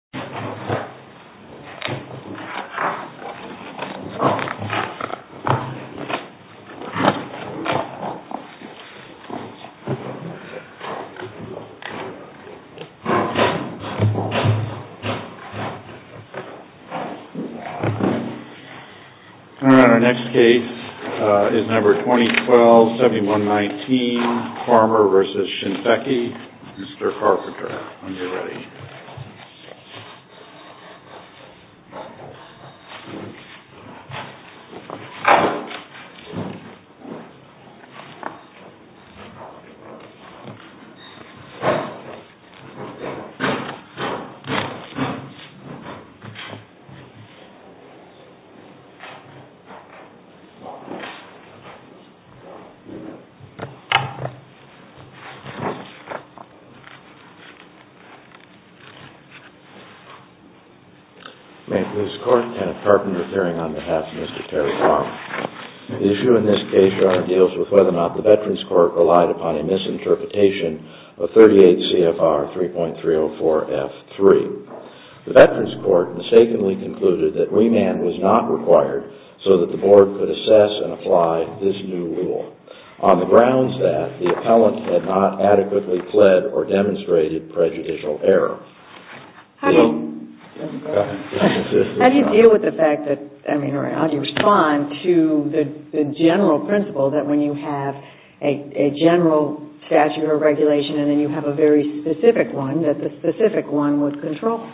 FARMER v. SHINSEKI FARMER v. SHINSEKI May it please the Court, Kenneth Carpenter appearing on behalf of Mr. Terry Farmer. The issue in this case, Your Honor, deals with whether or not the Veterans Court relied upon a misinterpretation of 38 CFR 3.304F3. The Veterans Court mistakenly concluded that remand was not required so that the Board could assess and apply this new rule. On the grounds that the appellant had not adequately pled or demonstrated prejudicial error. How do you deal with the fact that, I mean, how do you respond to the general principle that when you have a general statute of regulation and then you have a very specific one, that the specific one would control?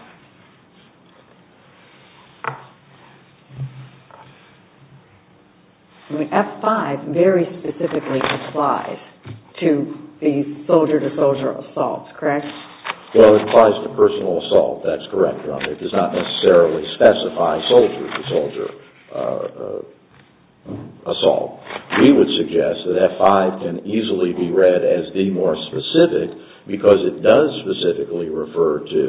I mean, F5 very specifically applies to the soldier-to-soldier assault, correct? Well, it applies to personal assault, that's correct, Your Honor. It does not necessarily specify soldier-to-soldier assault. We would suggest that F5 can easily be read as the more specific because it does specifically refer to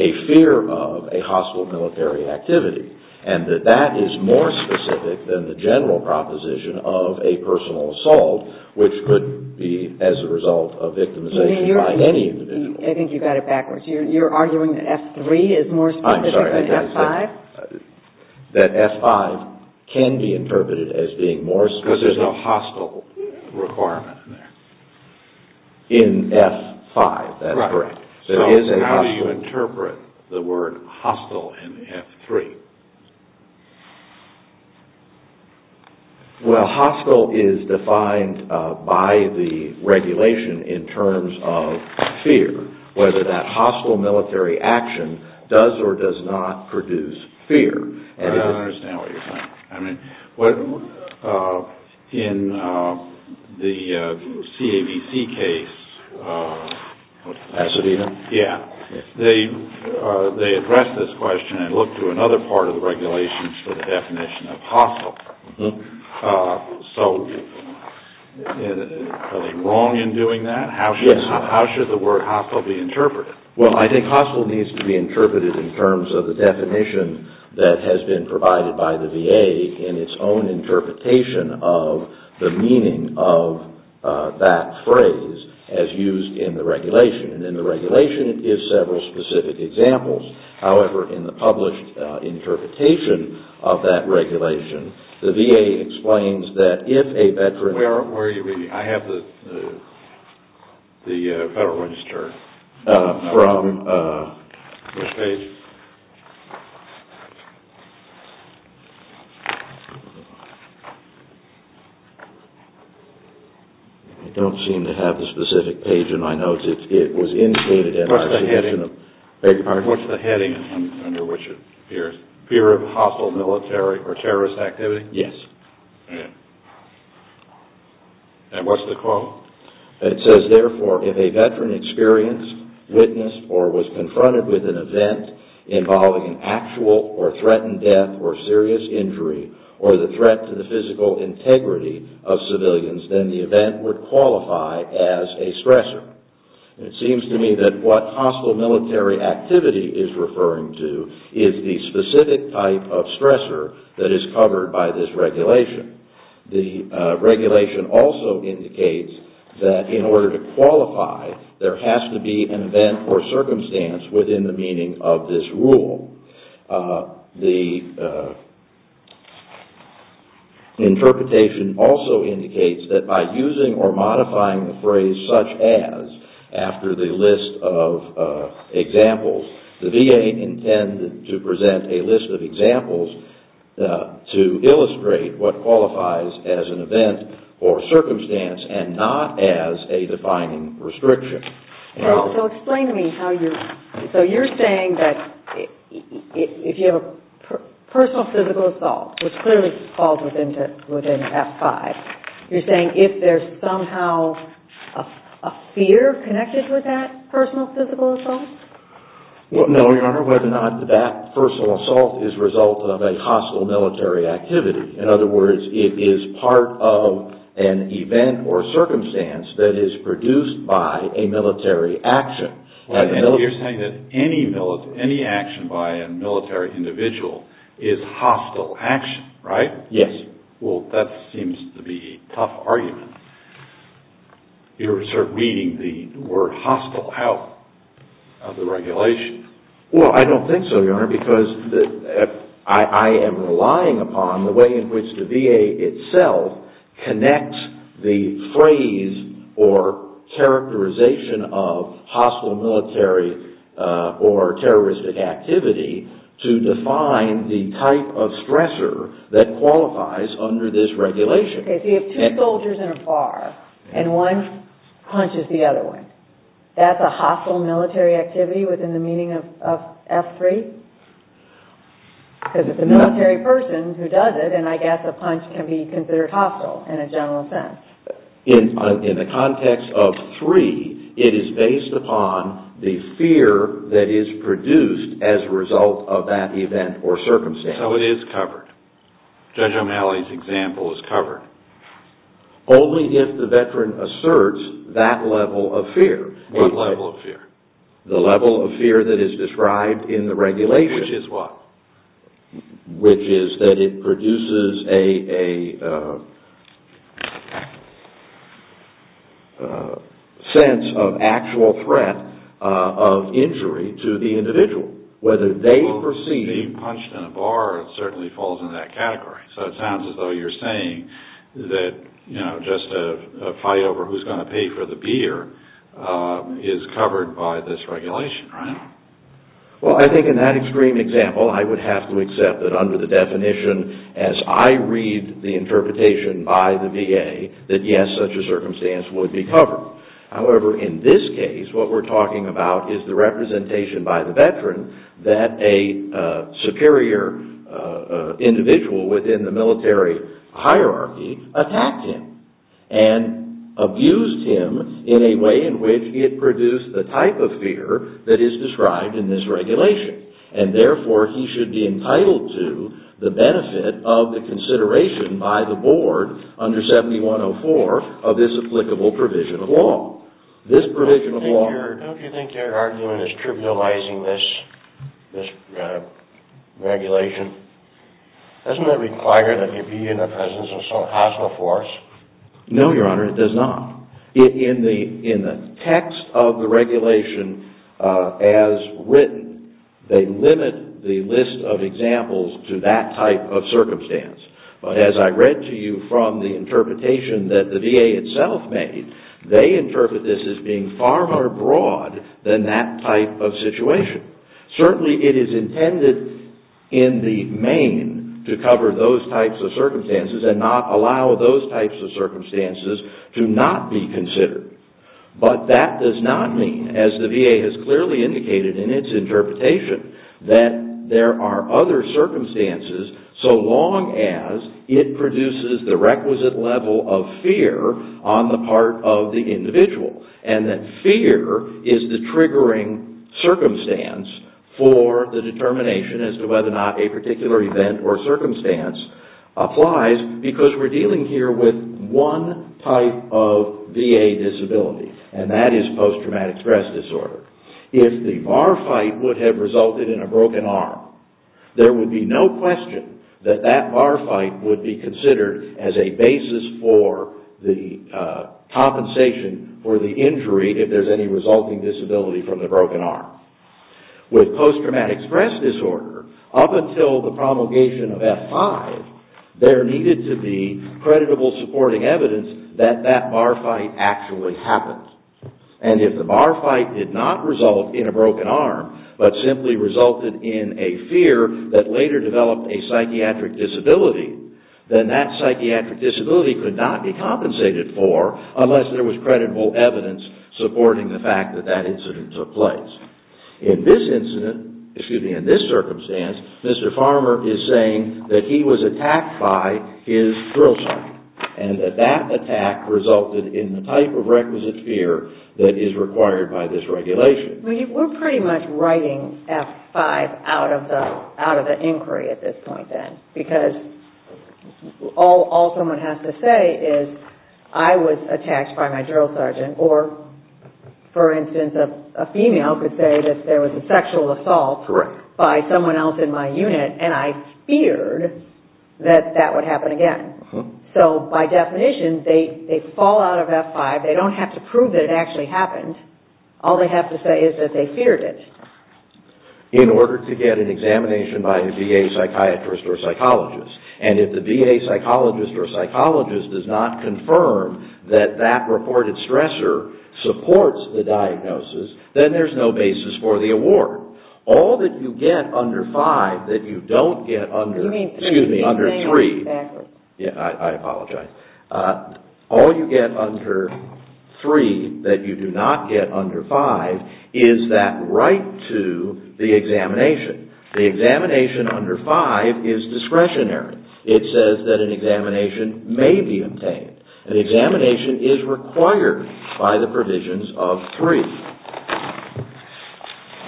a fear of a hostile military activity. And that that is more specific than the general proposition of a personal assault which could be as a result of victimization by any individual. I think you got it backwards. You're arguing that F3 is more specific than F5? That F5 can be interpreted as being more specific. Because there's no hostile requirement in there. In F5, that's correct. So how do you interpret the word hostile in F3? Well, hostile is defined by the regulation in terms of fear, whether that hostile military action does or does not produce fear. I don't understand what you're saying. I mean, in the CAVC case, they addressed this question and looked to another part of the regulations for the definition of hostile. So are they wrong in doing that? Yes. Well, I think hostile needs to be interpreted in terms of the definition that has been provided by the VA in its own interpretation of the meaning of that phrase as used in the regulation. And in the regulation, it gives several specific examples. However, in the published interpretation of that regulation, the VA explains that if a veteran... I have the Federal Register. From which page? I don't seem to have the specific page in my notes. It was indicated... What's the heading under which it appears? Fear of hostile military or terrorist activity? Yes. And what's the quote? It says, therefore, if a veteran experienced, witnessed, or was confronted with an event involving an actual or threatened death or serious injury or the threat to the physical integrity of civilians, then the event would qualify as a stressor. It seems to me that what hostile military activity is referring to is the specific type of stressor that is covered by this regulation. The regulation also indicates that in order to qualify, there has to be an event or circumstance within the meaning of this rule. The interpretation also indicates that by using or modifying the phrase, such as, after the list of examples, the VA intended to present a list of examples to illustrate what qualifies as an event or circumstance and not as a defining restriction. So explain to me how you... So you're saying that if you have a personal physical assault, which clearly falls within F-5, you're saying if there's somehow a fear connected with that personal physical assault? No, Your Honor. Whether or not that personal assault is a result of a hostile military activity. In other words, it is part of an event or circumstance that is produced by a military action. You're saying that any action by a military individual is hostile action, right? Yes. Well, that seems to be a tough argument. You're sort of reading the word hostile out of the regulation. Well, I don't think so, Your Honor, because I am relying upon the way in which the VA itself connects the phrase or characterization of hostile military or terroristic activity to define the type of stressor that qualifies under this regulation. Okay, so you have two soldiers in a bar, and one punches the other one. That's a hostile military activity within the meaning of F-3? Because if it's a military person who does it, then I guess a punch can be considered hostile in a general sense. In the context of 3, it is based upon the fear that is produced as a result of that event or circumstance. Okay, so it is covered. Judge O'Malley's example is covered. Only if the veteran asserts that level of fear. What level of fear? The level of fear that is described in the regulation. Which is what? Which is that it produces a sense of actual threat of injury to the individual, whether they perceive... So it sounds as though you're saying that just a fight over who's going to pay for the beer is covered by this regulation, right? Well, I think in that extreme example, I would have to accept that under the definition, as I read the interpretation by the VA, that yes, such a circumstance would be covered. However, in this case, what we're talking about is the representation by the veteran that a superior individual within the military hierarchy attacked him and abused him in a way in which it produced the type of fear that is described in this regulation. And therefore, he should be entitled to the benefit of the consideration by the board under 7104 of this applicable provision of law. This provision of law... Don't you think their argument is trivializing this regulation? Doesn't that require that there be a presence of some hostile force? No, Your Honor, it does not. In the text of the regulation as written, they limit the list of examples to that type of circumstance. But as I read to you from the interpretation that the VA itself made, they interpret this as being far more broad than that type of situation. Certainly, it is intended in the main to cover those types of circumstances and not allow those types of circumstances to not be considered. But that does not mean, as the VA has clearly indicated in its interpretation, that there are other circumstances so long as it produces the requisite level of fear on the part of the individual and that fear is the triggering circumstance for the determination as to whether or not a particular event or circumstance applies because we're dealing here with one type of VA disability, and that is post-traumatic stress disorder. If the bar fight would have resulted in a broken arm, there would be no question that that bar fight would be considered as a basis for the compensation for the injury if there's any resulting disability from the broken arm. With post-traumatic stress disorder, up until the promulgation of F-5, there needed to be creditable supporting evidence that that bar fight actually happened. And if the bar fight did not result in a broken arm, but simply resulted in a fear that later developed a psychiatric disability, then that psychiatric disability could not be compensated for unless there was creditable evidence supporting the fact that that incident took place. In this incident, excuse me, in this circumstance, Mr. Farmer is saying that he was attacked by his drill sergeant and that that attack resulted in the type of requisite fear that is required by this regulation. We're pretty much writing F-5 out of the inquiry at this point then because all someone has to say is, I was attacked by my drill sergeant or, for instance, a female could say that there was a sexual assault by someone else in my unit and I feared that that would happen again. So, by definition, they fall out of F-5. They don't have to prove that it actually happened. All they have to say is that they feared it. In order to get an examination by a VA psychiatrist or psychologist, and if the VA psychologist or psychologist does not confirm that that reported stressor supports the diagnosis, then there's no basis for the award. All that you get under F-5 that you don't get under, excuse me, under F-3, I apologize. All you get under F-3 that you do not get under F-5 is that right to the examination. The examination under F-5 is discretionary. It says that an examination may be obtained. An examination is required by the provisions of 3.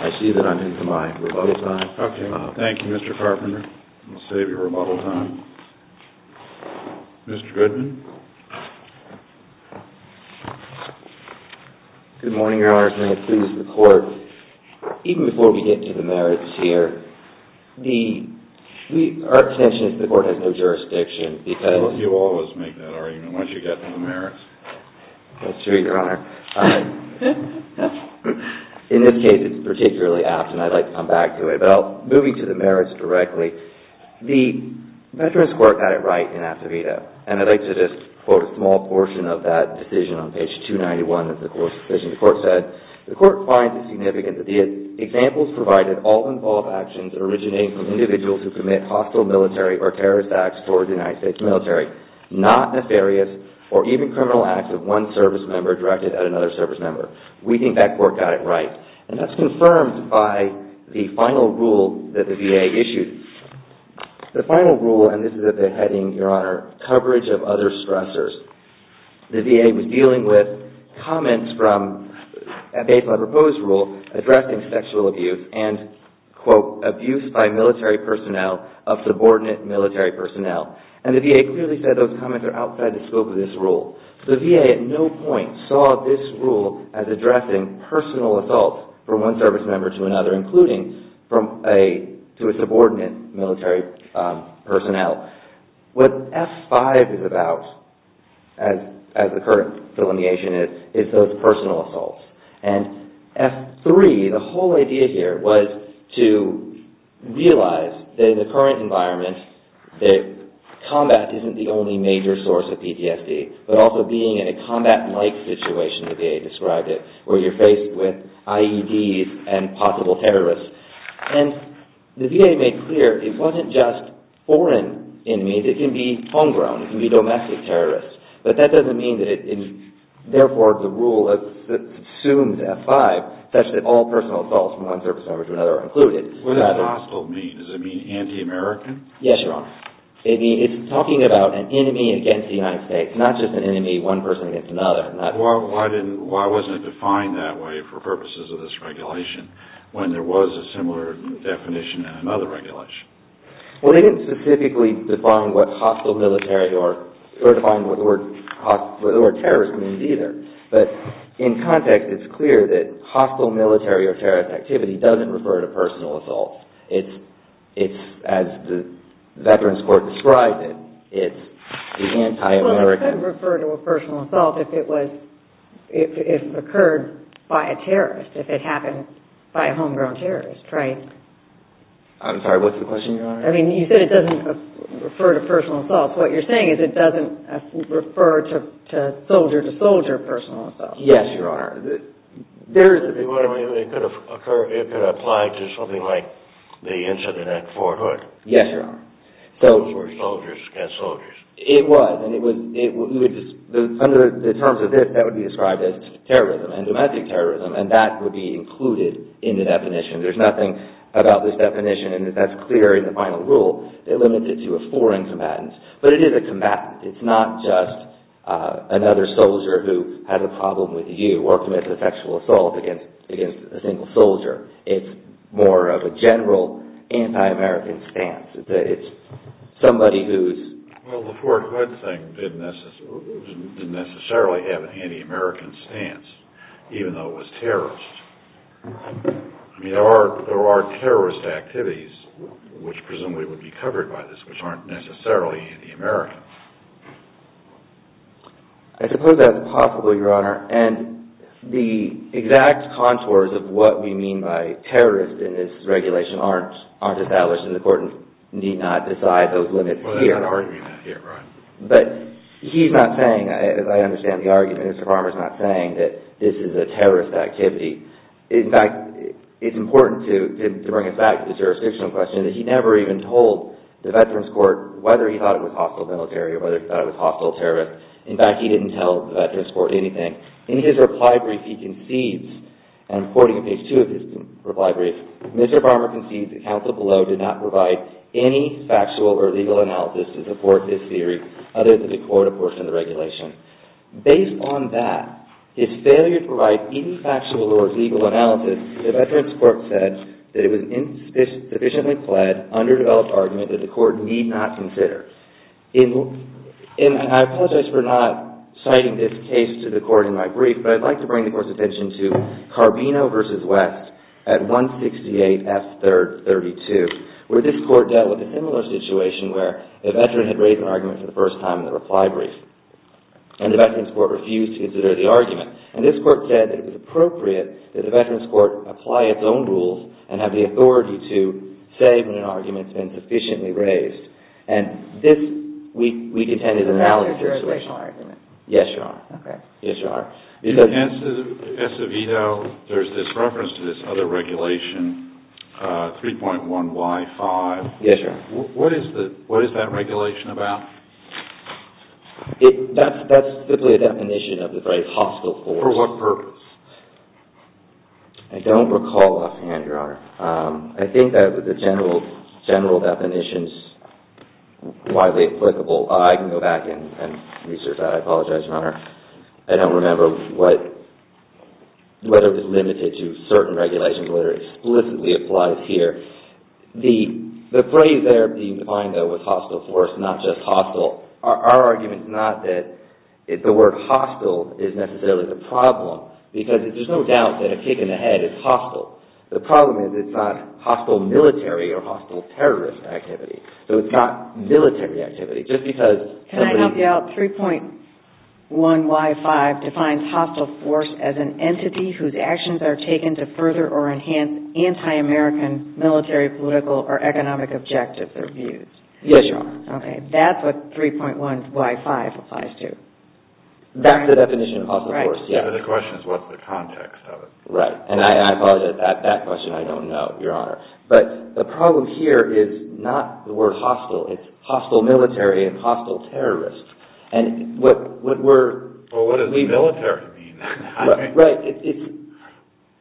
I see that I'm into my rebuttal time. Thank you, Mr. Carpenter. I'll save your rebuttal time. Mr. Goodman? Good morning, Your Honor. May it please the Court, even before we get to the merits here, our intention is that the Court has no jurisdiction because Well, you always make that argument once you get to the merits. That's true, Your Honor. In this case, it's particularly apt and I'd like to come back to it. Well, moving to the merits directly, the Veterans Court got it right in APTAVITA and I'd like to just quote a small portion of that decision on page 291 of the Court's decision. The Court said, The Court finds it significant that the examples provided all involve actions originating from individuals who commit hostile military or terrorist acts toward the United States military, not nefarious or even criminal acts of one service member directed at another service member. We think that Court got it right. And that's confirmed by the final rule that the VA issued. The final rule, and this is at the heading, Your Honor, Coverage of Other Stressors. The VA was dealing with comments from a proposed rule addressing sexual abuse and, quote, abuse by military personnel of subordinate military personnel. And the VA clearly said those comments are outside the scope of this rule. The VA at no point saw this rule as addressing personal assault from one service member to another, including to a subordinate military personnel. What F-5 is about, as the current delineation is, is those personal assaults. And F-3, the whole idea here was to realize that in the current environment, that combat isn't the only major source of PTSD, but also being in a combat-like situation, the VA described it, where you're faced with IEDs and possible terrorists. And the VA made clear it wasn't just foreign enemies. It can be homegrown. It can be domestic terrorists. But that doesn't mean that it, therefore, the rule assumes F-5, such that all personal assaults from one service member to another are included. What does hostile mean? Does it mean anti-American? Yes, Your Honor. It's talking about an enemy against the United States, not just an enemy, one person against another. Why wasn't it defined that way for purposes of this regulation when there was a similar definition in another regulation? Well, they didn't specifically define what hostile military or terrorist means either. But in context, it's clear that hostile military or terrorist activity doesn't refer to personal assaults. It's, as the Veterans Court described it, it's the anti-American... Well, it could refer to a personal assault if it occurred by a terrorist, if it happened by a homegrown terrorist, right? I'm sorry, what's the question, Your Honor? I mean, you said it doesn't refer to personal assaults. What you're saying is it doesn't refer to soldier-to-soldier personal assaults. Yes, Your Honor. It could apply to something like the incident at Fort Hood. Yes, Your Honor. Soldiers against soldiers. It was. Under the terms of this, that would be described as terrorism, and domestic terrorism, and that would be included in the definition. There's nothing about this definition, and that's clear in the final rule. It limits it to a foreign combatant, but it is a combatant. It's not just another soldier who has a problem with you or commits a sexual assault against a single soldier. It's more of a general anti-American stance. It's somebody who's... Well, the Fort Hood thing didn't necessarily have an anti-American stance, even though it was terrorist. I mean, there are terrorist activities, which presumably would be covered by this, which aren't necessarily anti-American. I suppose that's possible, Your Honor, and the exact contours of what we mean by terrorist in this regulation aren't established, and the court need not decide those limits here. Well, they're not arguing that here, right? But he's not saying, as I understand the argument, Mr. Farmer's not saying that this is a terrorist activity. In fact, it's important to bring it back to the jurisdictional question that he never even told the Veterans Court whether he thought it was hostile military or whether he thought it was hostile terrorist. In fact, he didn't tell the Veterans Court anything. In his reply brief, he concedes, and I'm quoting in page 2 of his reply brief, Mr. Farmer concedes that counsel below did not provide any factual or legal analysis to support this theory, other than the court, of course, and the regulation. Based on that, his failure to provide any factual or legal analysis, the Veterans Court said that it was an insufficiently pled, underdeveloped argument that the court need not consider. I apologize for not citing this case to the court in my brief, but I'd like to bring the court's attention to Carbino v. West at 168 F. 3rd. 32, where this court dealt with a similar situation where a veteran had raised an argument for the first time in the reply brief, and the Veterans Court refused to consider the argument. And this court said that it was appropriate that the Veterans Court apply its own rules and have the authority to say when an argument's been sufficiently raised. And this, we contend, is a valid jurisdictional argument. Yes, Your Honor. Okay. Yes, Your Honor. In the case of Edo, there's this reference to this other regulation, 3.1Y5. Yes, Your Honor. What is that regulation about? That's simply a definition of the very hostile force. For what purpose? I don't recall offhand, Your Honor. I think that the general definition's widely applicable. I can go back and research that. I apologize, Your Honor. I don't remember whether it was limited to certain regulations or whether it explicitly applies here. The phrase there being defined, though, was hostile force, not just hostile. Our argument's not that the word hostile is necessarily the problem, because there's no doubt that a kick in the head is hostile. The problem is it's not hostile military or hostile terrorist activity. So it's not military activity, just because somebody – Can I help you out? 3.1Y5 defines hostile force as an entity whose actions are taken to further or enhance anti-American military, political, or economic objectives or views. Yes, Your Honor. Okay. That's what 3.1Y5 applies to. That's the definition of hostile force, yes. The question is what's the context of it. Right. And I apologize, that question I don't know, Your Honor. But the problem here is not the word hostile. It's hostile military and hostile terrorist. And what we're – Well, what does military mean? Right.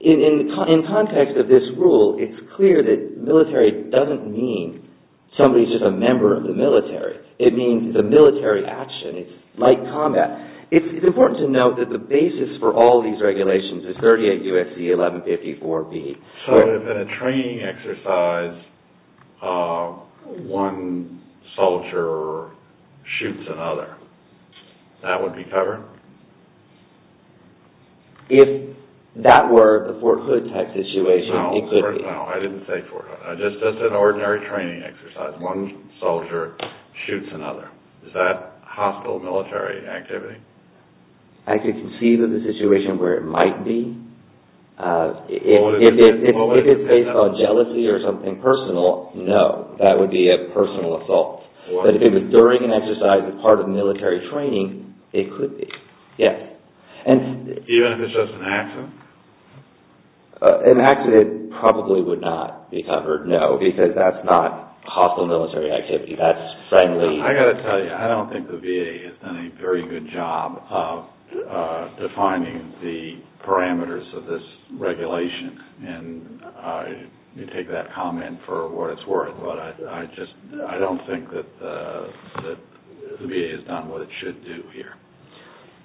In context of this rule, it's clear that military doesn't mean somebody's just a member of the military. It means it's a military action. It's like combat. It's important to note that the basis for all these regulations is 38 U.S.C. 1154B. So if in a training exercise one soldier shoots another, that would be covered? If that were the Fort Hood type situation, it could be. No, I didn't say Fort Hood. Just an ordinary training exercise. One soldier shoots another. Is that hostile military activity? I could conceive of the situation where it might be. If it's based on jealousy or something personal, no. That would be a personal assault. But if it was during an exercise as part of military training, it could be. Yes. Even if it's just an accident? An accident probably would not be covered, no, because that's not hostile military activity. That's friendly. I've got to tell you, I don't think the VA has done a very good job of defining the parameters of this regulation. And you take that comment for what it's worth, but I just don't think that the VA has done what it should do here.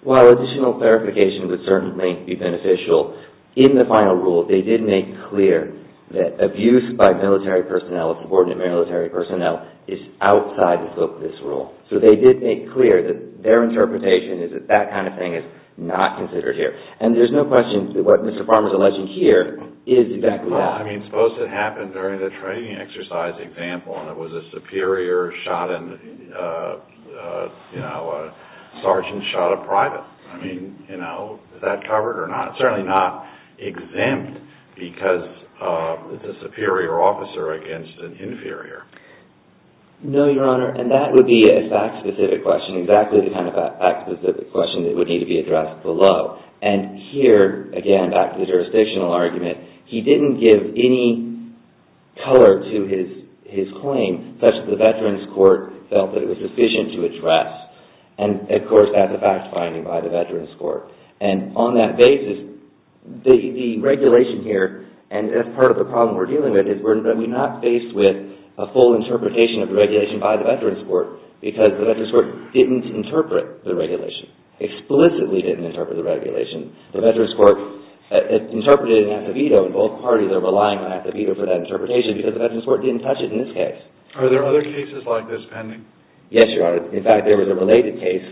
While additional verification would certainly be beneficial, in the final rule they did make clear that abuse by military personnel, subordinate military personnel, is outside of this rule. So they did make clear that their interpretation is that that kind of thing is not considered here. And there's no question that what Mr. Farmer is alleging here is exactly that. Well, I mean, suppose it happened during the training exercise, example, and it was a superior shot and a sergeant shot a private. I mean, is that covered or not? It's certainly not exempt because it's a superior officer against an inferior. No, Your Honor, and that would be a fact-specific question, exactly the kind of fact-specific question that would need to be addressed below. And here, again, back to the jurisdictional argument, he didn't give any color to his claim, such that the Veterans Court felt that it was sufficient to address. And, of course, that's a fact finding by the Veterans Court. And on that basis, the regulation here, and that's part of the problem we're dealing with, is we're not faced with a full interpretation of the regulation by the Veterans Court because the Veterans Court didn't interpret the regulation, explicitly didn't interpret the regulation. The Veterans Court interpreted it in at the veto, and both parties are relying on at the veto for that interpretation because the Veterans Court didn't touch it in this case. Are there other cases like this pending? Yes, Your Honor. In fact, there was a related case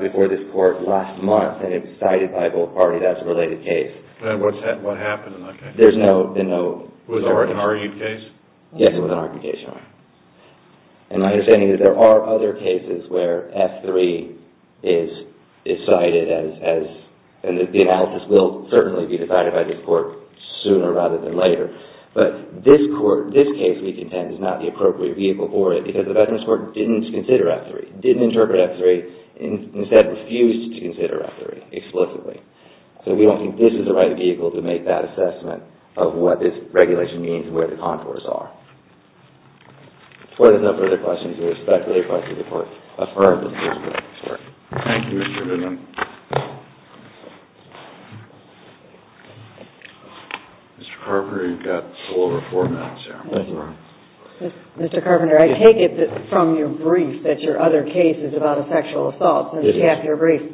before this Court last month, and it was cited by both parties as a related case. And what happened in that case? There's no... Was it an argued case? Yes, it was an argued case, Your Honor. And my understanding is there are other cases where F-3 is cited as... and the analysis will certainly be decided by this Court sooner rather than later. But this Court, this case, we contend, is not the appropriate vehicle for it because the Veterans Court didn't consider F-3, didn't interpret F-3, and instead refused to consider F-3 explicitly. So we don't think this is the right vehicle to make that assessment of what this regulation means and where the contours are. Before there's no further questions, we respectfully request that the Court affirm the conclusion of this Court. Thank you, Mr. Goodman. Mr. Carpenter, you've got a little over four minutes, Your Honor. Thank you, Your Honor. Mr. Carpenter, I take it from your brief that your other case is about a sexual assault. It is. Your brief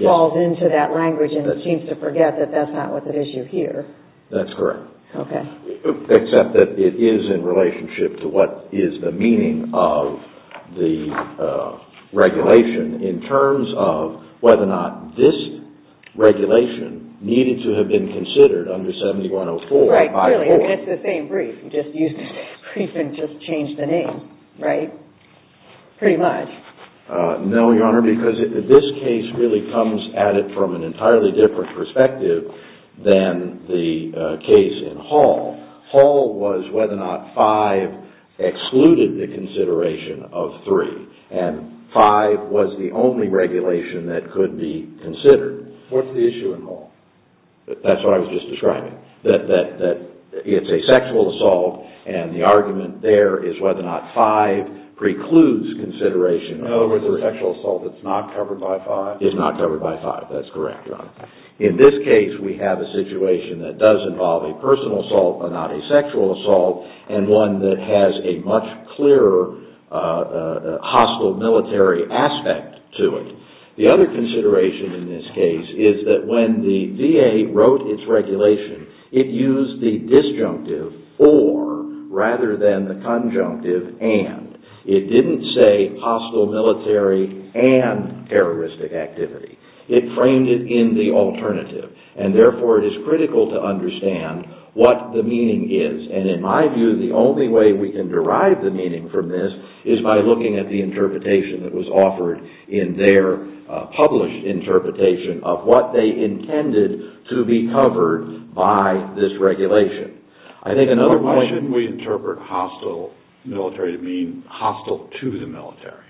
falls into that language, and it seems to forget that that's not what the issue here. That's correct. Okay. Except that it is in relationship to what is the meaning of the regulation in terms of whether or not this regulation needed to have been considered under 7104 by the Court. Right, really. It's the same brief. You just used the brief and just changed the name, right? Pretty much. No, Your Honor, because this case really comes at it from an entirely different perspective than the case in Hall. Hall was whether or not 5 excluded the consideration of 3, and 5 was the only regulation that could be considered. What's the issue in Hall? That's what I was just describing, that it's a sexual assault, and the argument there is whether or not 5 precludes consideration of 3. No, it's a sexual assault that's not covered by 5. It's not covered by 5, that's correct, Your Honor. In this case, we have a situation that does involve a personal assault, but not a sexual assault, and one that has a much clearer hostile military aspect to it. The other consideration in this case is that when the VA wrote its regulation, it used the disjunctive or rather than the conjunctive and. It didn't say hostile military and terroristic activity. It framed it in the alternative, and therefore it is critical to understand what the meaning is, and in my view, the only way we can derive the meaning from this is by looking at the interpretation that was offered in their published interpretation of what they intended to be covered by this regulation. I think another question. Why shouldn't we interpret hostile military to mean hostile to the military?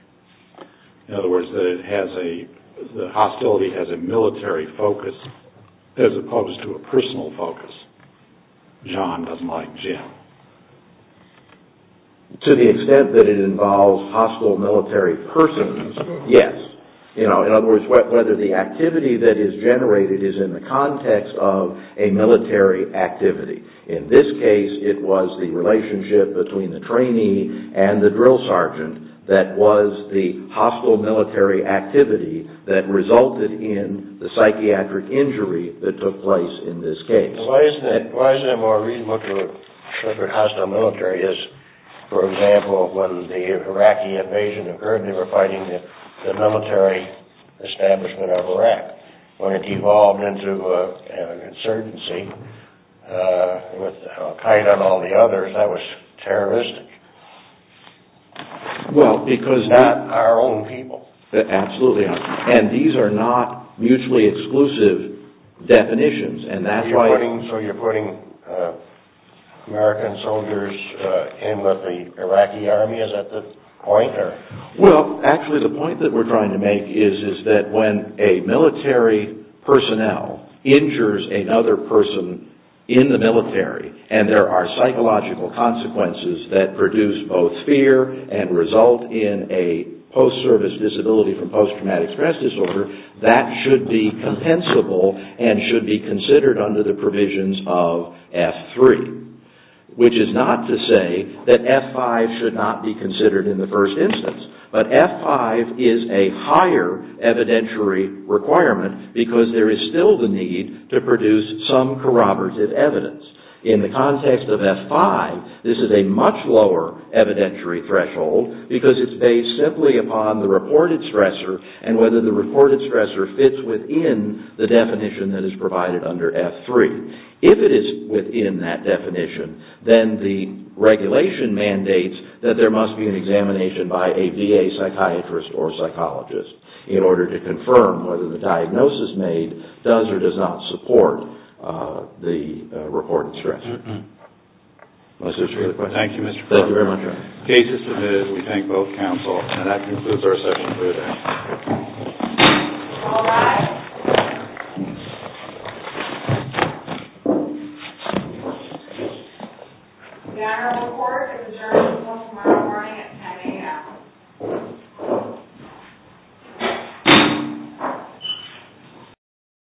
In other words, the hostility has a military focus as opposed to a personal focus. John doesn't like Jim. To the extent that it involves hostile military persons, yes. In other words, whether the activity that is generated is in the context of a military activity. In this case, it was the relationship between the trainee and the drill sergeant that was the hostile military activity that resulted in the psychiatric injury that took place in this case. Why isn't it more reasonable to interpret hostile military as, for example, when the Iraqi invasion occurred, they were fighting the military establishment of Iraq. When it evolved into an insurgency with Al-Qaeda and all the others, that was terroristic. Well, because... Not our own people. Absolutely not. And these are not mutually exclusive definitions, and that's why... So you're putting American soldiers in with the Iraqi army? Is that the point? Well, actually the point that we're trying to make is that when a military personnel injures another person in the military, and there are psychological consequences that produce both fear and result in a post-service disability from post-traumatic stress disorder, that should be compensable and should be considered under the provisions of F-3. Which is not to say that F-5 should not be considered in the first instance, but F-5 is a higher evidentiary requirement because there is still the need to produce some corroborative evidence. In the context of F-5, this is a much lower evidentiary threshold because it's based simply upon the reported stressor and whether the reported stressor fits within the definition that is provided under F-3. If it is within that definition, then the regulation mandates that there must be an examination by a VA psychiatrist or psychologist in order to confirm whether the diagnosis made does or does not support the reported stressor. Thank you, Mr. Clark. Thank you very much. The case is submitted. We thank both counsel. And that concludes our session for today. All rise. The Honorable Court is adjourned until tomorrow morning at 10 a.m.